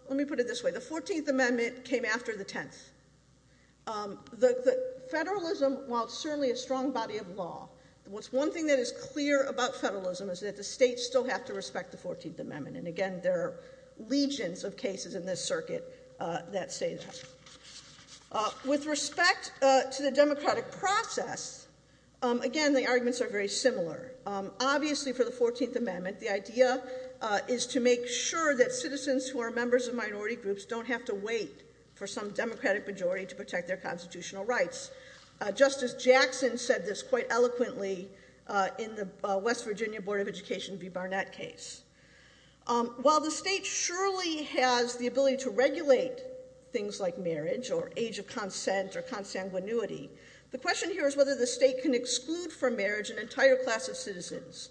Let me put it this way. The 14th Amendment came after the 10th. Federalism, while it's certainly a strong body of law, the one thing that is clear about federalism is that the states still have to respect the 14th Amendment. Again, there are legions of cases in this circuit that say that. With respect to the democratic process, again, the arguments are very similar. Obviously, for the 14th Amendment, the idea is to make sure that citizens who are members of minority groups don't have to wait for some democratic majority to protect their constitutional rights. Justice Jackson said this quite eloquently in the West Virginia Board of Education v. Barnett case. While the state surely has the ability to regulate things like marriage or age of consent or consanguinity, the question here is whether the state can exclude from marriage an entire class of citizens.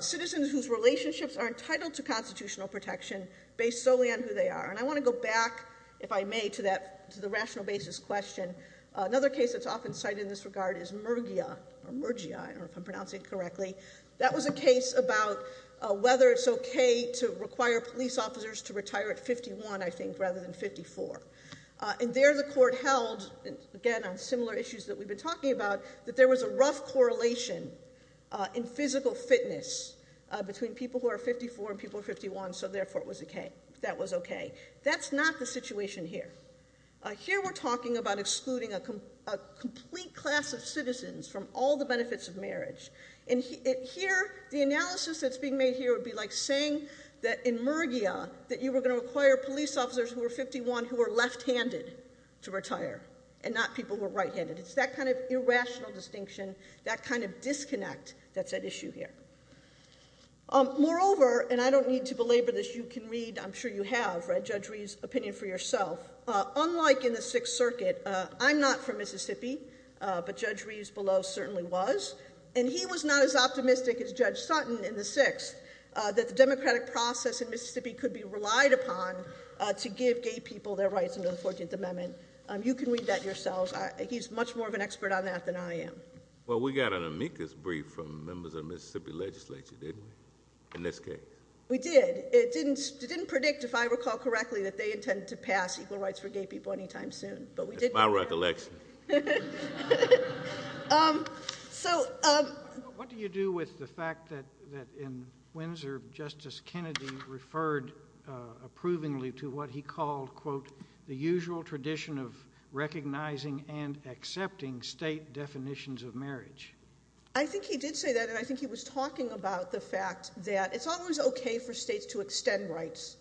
Citizens whose relationships are entitled to constitutional protection based solely on who they are. I want to go back, if I may, to the rational basis question. Another case that's often cited in this regard is Murgia. I don't know if I'm pronouncing it correctly. That was a case about whether it's okay to require police officers to retire at 51, I think, rather than 54. And there the court held, again, on similar issues that we've been talking about, that there was a rough correlation in physical fitness between people who are 54 and people who are 51, so therefore it was okay. That's not the situation here. Here we're talking about excluding a complete class of citizens from all the benefits of marriage. And here the analysis that's being made here would be like saying that in Murgia that you were going to require police officers who were 51 who were left-handed to retire and not people who were right-handed. It's that kind of irrational distinction, that kind of disconnect, that's at issue here. Moreover, and I don't need to belabor this, you can read, I'm sure you have, right, Judge Reeves' opinion for yourself. Unlike in the Sixth Circuit, I'm not from Mississippi, but Judge Reeves below certainly was, and he was not as optimistic as Judge Sutton in the Sixth that the democratic process in Mississippi could be relied upon to give gay people their rights under the 14th Amendment. You can read that yourselves. He's much more of an expert on that than I am. Well, we got an amicus brief from members of the Mississippi legislature, didn't we, in this case? We did. It didn't predict, if I recall correctly, that they intended to pass equal rights for gay people anytime soon. That's my recollection. What do you do with the fact that in Windsor Justice Kennedy referred approvingly to what he called, quote, the usual tradition of recognizing and accepting state definitions of marriage? I think he did say that, and I think he was talking about the fact that it's always okay for states to extend rights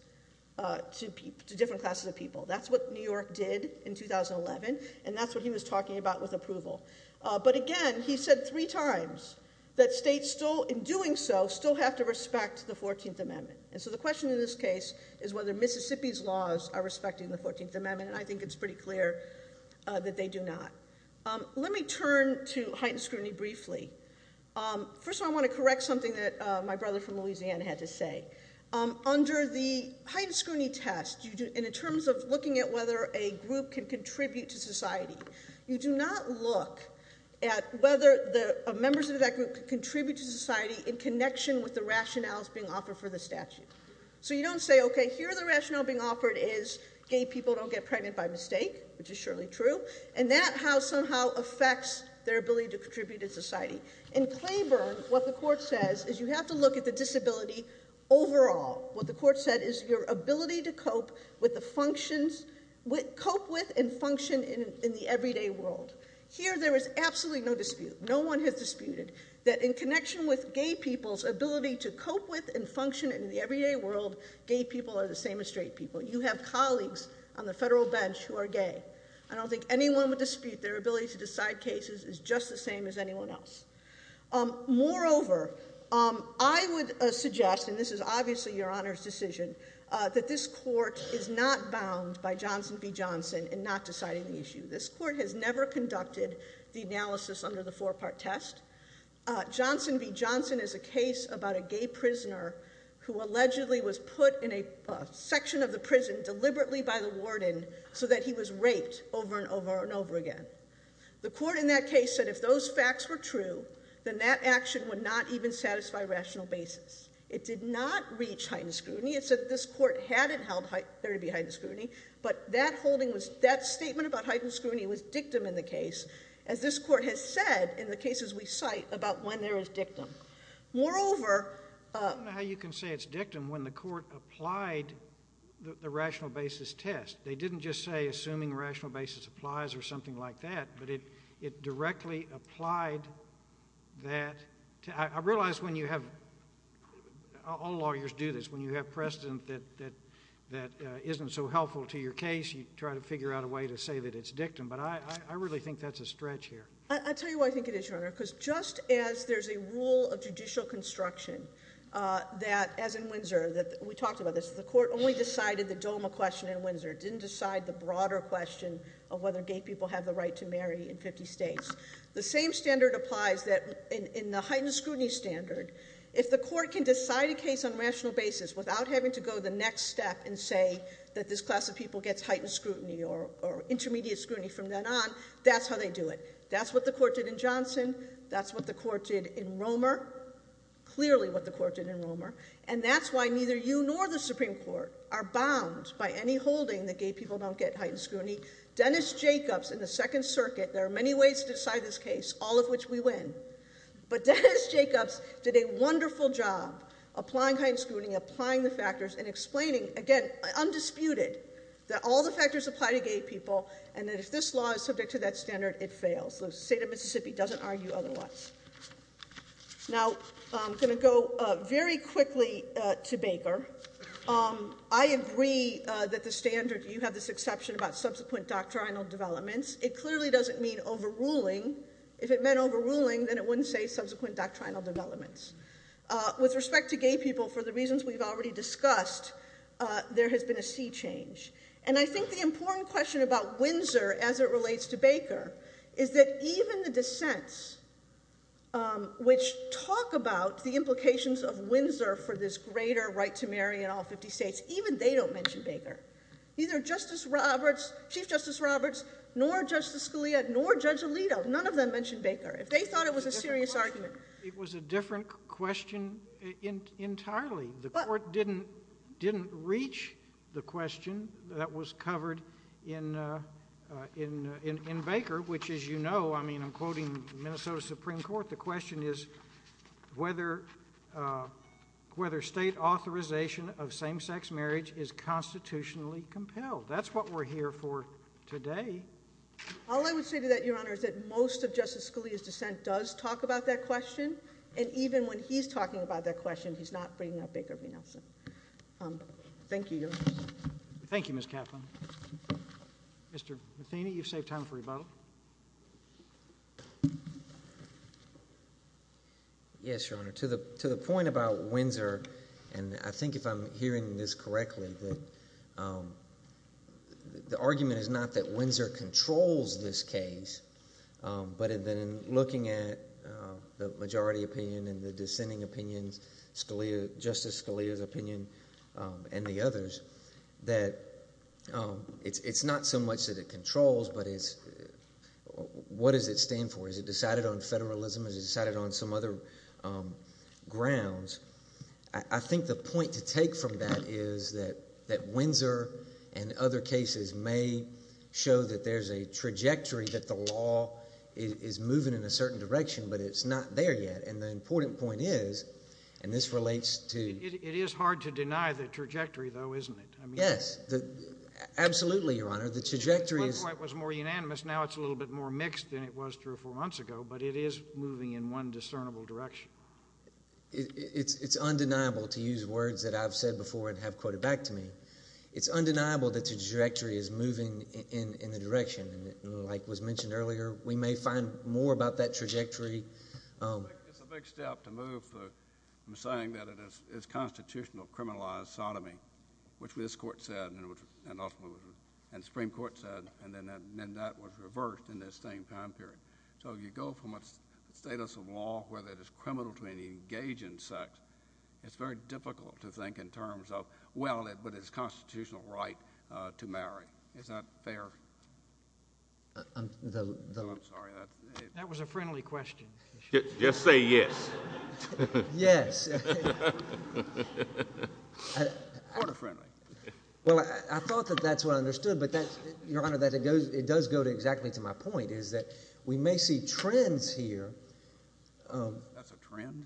to different classes of people. That's what New York did in 2011, and that's what he was talking about with approval. But again, he said three times that states still, in doing so, still have to respect the 14th Amendment. And so the question in this case is whether Mississippi's laws are respecting the 14th Amendment, and I think it's pretty clear that they do not. Let me turn to heightened scrutiny briefly. First of all, I want to correct something that my brother from Louisiana had to say. Under the heightened scrutiny test, in terms of looking at whether a group can contribute to society, you do not look at whether members of that group can contribute to society in connection with the rationales being offered for the statute. So you don't say, okay, here the rationale being offered is gay people don't get pregnant by mistake, which is surely true, and that somehow affects their ability to contribute to society. In Claiborne, what the court says is you have to look at the disability overall. What the court said is your ability to cope with and function in the everyday world. Here, there is absolutely no dispute. No one has disputed that in connection with gay people's ability to cope with and function in the everyday world, gay people are the same as straight people. You have colleagues on the federal bench who are gay. I don't think anyone would dispute their ability to decide cases is just the same as anyone else. Moreover, I would suggest, and this is obviously your Honor's decision, that this court is not bound by Johnson v. Johnson in not deciding the issue. This court has never conducted the analysis under the four-part test. Johnson v. Johnson is a case about a gay prisoner who allegedly was put in a section of the prison deliberately by the warden so that he was raped over and over and over again. The court in that case said if those facts were true, then that action would not even satisfy rational basis. It did not reach heightened scrutiny. It said this court hadn't held there to be heightened scrutiny, but that statement about heightened scrutiny was dictum in the case, as this court has said in the cases we cite about when there is dictum. Moreover— I don't know how you can say it's dictum when the court applied the rational basis test. They didn't just say assuming rational basis applies or something like that, but it directly applied that. I realize when you have—all lawyers do this. When you have precedent that isn't so helpful to your case, you try to figure out a way to say that it's dictum, but I really think that's a stretch here. I'll tell you why I think it is, Your Honor, because just as there's a rule of judicial construction that, as in Windsor, we talked about this, the court only decided the DOMA question in Windsor. It didn't decide the broader question of whether gay people have the right to marry in 50 states. The same standard applies in the heightened scrutiny standard. If the court can decide a case on rational basis without having to go the next step and say that this class of people gets heightened scrutiny or intermediate scrutiny from then on, that's how they do it. That's what the court did in Johnson. That's what the court did in Romer. Clearly what the court did in Romer. And that's why neither you nor the Supreme Court are bound by any holding that gay people don't get heightened scrutiny. Dennis Jacobs in the Second Circuit—there are many ways to decide this case, all of which we win— but Dennis Jacobs did a wonderful job applying heightened scrutiny, applying the factors, and explaining, again, undisputed, that all the factors apply to gay people and that if this law is subject to that standard, it fails. The state of Mississippi doesn't argue otherwise. Now, I'm going to go very quickly to Baker. I agree that the standard—you have this exception about subsequent doctrinal developments. It clearly doesn't mean overruling. If it meant overruling, then it wouldn't say subsequent doctrinal developments. With respect to gay people, for the reasons we've already discussed, there has been a sea change. And I think the important question about Windsor as it relates to Baker is that even the dissents which talk about the implications of Windsor for this greater right to marry in all 50 states, even they don't mention Baker. Neither Justice Roberts, Chief Justice Roberts, nor Justice Scalia, nor Judge Alito, none of them mentioned Baker. If they thought it was a serious argument— It was a different question entirely. The Court didn't reach the question that was covered in Baker, which as you know— I mean, I'm quoting Minnesota Supreme Court— the question is whether state authorization of same-sex marriage is constitutionally compelled. That's what we're here for today. All I would say to that, Your Honor, is that most of Justice Scalia's dissent does talk about that question, and even when he's talking about that question, he's not bringing up Baker v. Nelson. Thank you, Your Honor. Thank you, Ms. Kaplan. Mr. Matheny, you've saved time for rebuttal. Yes, Your Honor. To the point about Windsor, and I think if I'm hearing this correctly, the argument is not that Windsor controls this case, but in looking at the majority opinion and the dissenting opinions, Justice Scalia's opinion and the others, that it's not so much that it controls, but what does it stand for? Is it decided on federalism? Is it decided on some other grounds? I think the point to take from that is that Windsor and other cases may show that there's a trajectory, that the law is moving in a certain direction, but it's not there yet. And the important point is, and this relates to— It is hard to deny the trajectory, though, isn't it? Yes, absolutely, Your Honor. The trajectory is— One point was more unanimous. Now it's a little bit more mixed than it was three or four months ago, but it is moving in one discernible direction. It's undeniable, to use words that I've said before and have quoted back to me, it's undeniable that the trajectory is moving in the direction, and like was mentioned earlier, we may find more about that trajectory. It's a big step to move from saying that it is constitutional criminalized sodomy, which this Court said and the Supreme Court said, and then that was reversed in this same time period. So you go from a status of law where it is criminal to engage in sex, it's very difficult to think in terms of, well, but it's a constitutional right to marry. It's not fair. I'm sorry. That was a friendly question. Just say yes. Yes. Or friendly. Well, I thought that that's what I understood, Your Honor, that it does go exactly to my point is that we may see trends here. That's a trend?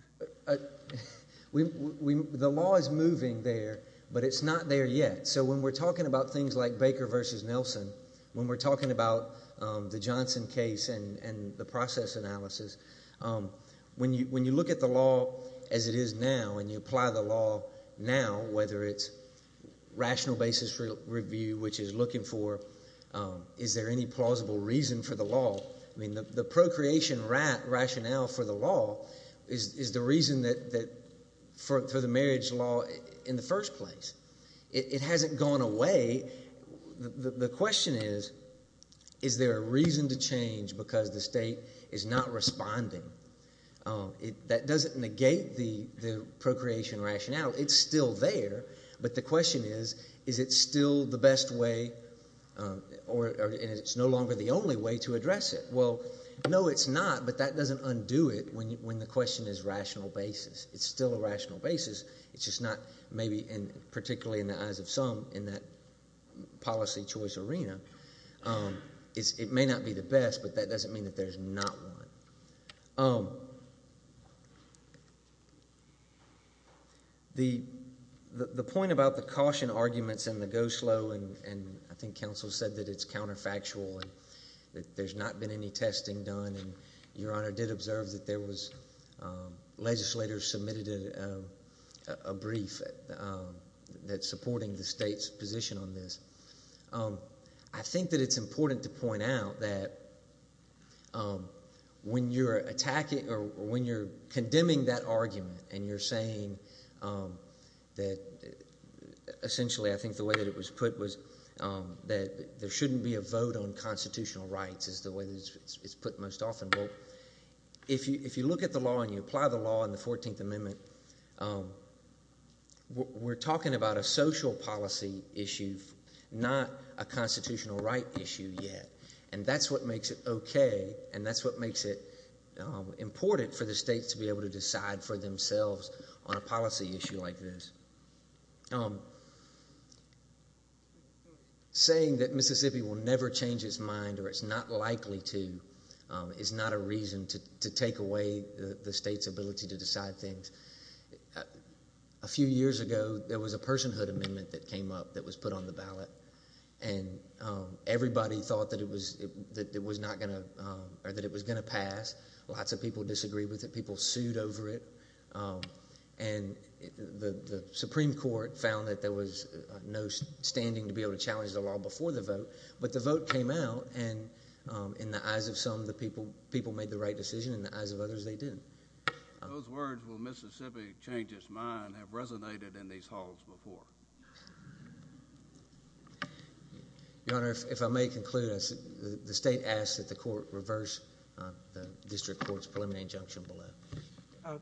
The law is moving there, but it's not there yet. So when we're talking about things like Baker v. Nelson, when we're talking about the Johnson case and the process analysis, when you look at the law as it is now and you apply the law now, whether it's rational basis review, which is looking for is there any plausible reason for the law, I mean the procreation rationale for the law is the reason for the marriage law in the first place. It hasn't gone away. The question is, is there a reason to change because the state is not responding? That doesn't negate the procreation rationale. It's still there, but the question is, is it still the best way and it's no longer the only way to address it? Well, no, it's not, but that doesn't undo it when the question is rational basis. It's still a rational basis. It's just not maybe particularly in the eyes of some in that policy choice arena. It may not be the best, but that doesn't mean that there's not one. The point about the caution arguments and the go slow, and I think counsel said that it's counterfactual and that there's not been any testing done, and Your Honor did observe that there was legislators submitted a brief that's supporting the state's position on this. I think that it's important to point out that when you're attacking or when you're condemning that argument and you're saying that essentially I think the way that it was put was that there shouldn't be a vote on constitutional rights is the way that it's put most often. Well, if you look at the law and you apply the law in the 14th Amendment, we're talking about a social policy issue, not a constitutional right issue yet, and that's what makes it okay and that's what makes it important for the states to be able to decide for themselves on a policy issue like this. Saying that Mississippi will never change its mind or it's not likely to is not a reason to take away the state's ability to decide things. A few years ago, there was a personhood amendment that came up that was put on the ballot, and everybody thought that it was going to pass. Lots of people disagreed with it. People sued over it, and the Supreme Court found that there was no standing to be able to challenge the law before the vote, but the vote came out, and in the eyes of some, the people made the right decision. In the eyes of others, they didn't. Those words, will Mississippi change its mind, have resonated in these halls before. Your Honor, if I may conclude, the state asks that the court reverse the district court's preliminary injunction below.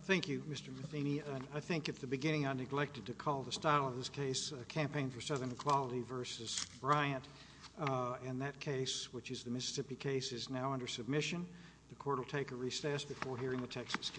Thank you, Mr. Matheny. I think at the beginning I neglected to call the style of this case Campaign for Southern Equality v. Bryant, and that case, which is the Mississippi case, is now under submission. The court will take a recess before hearing the Texas case.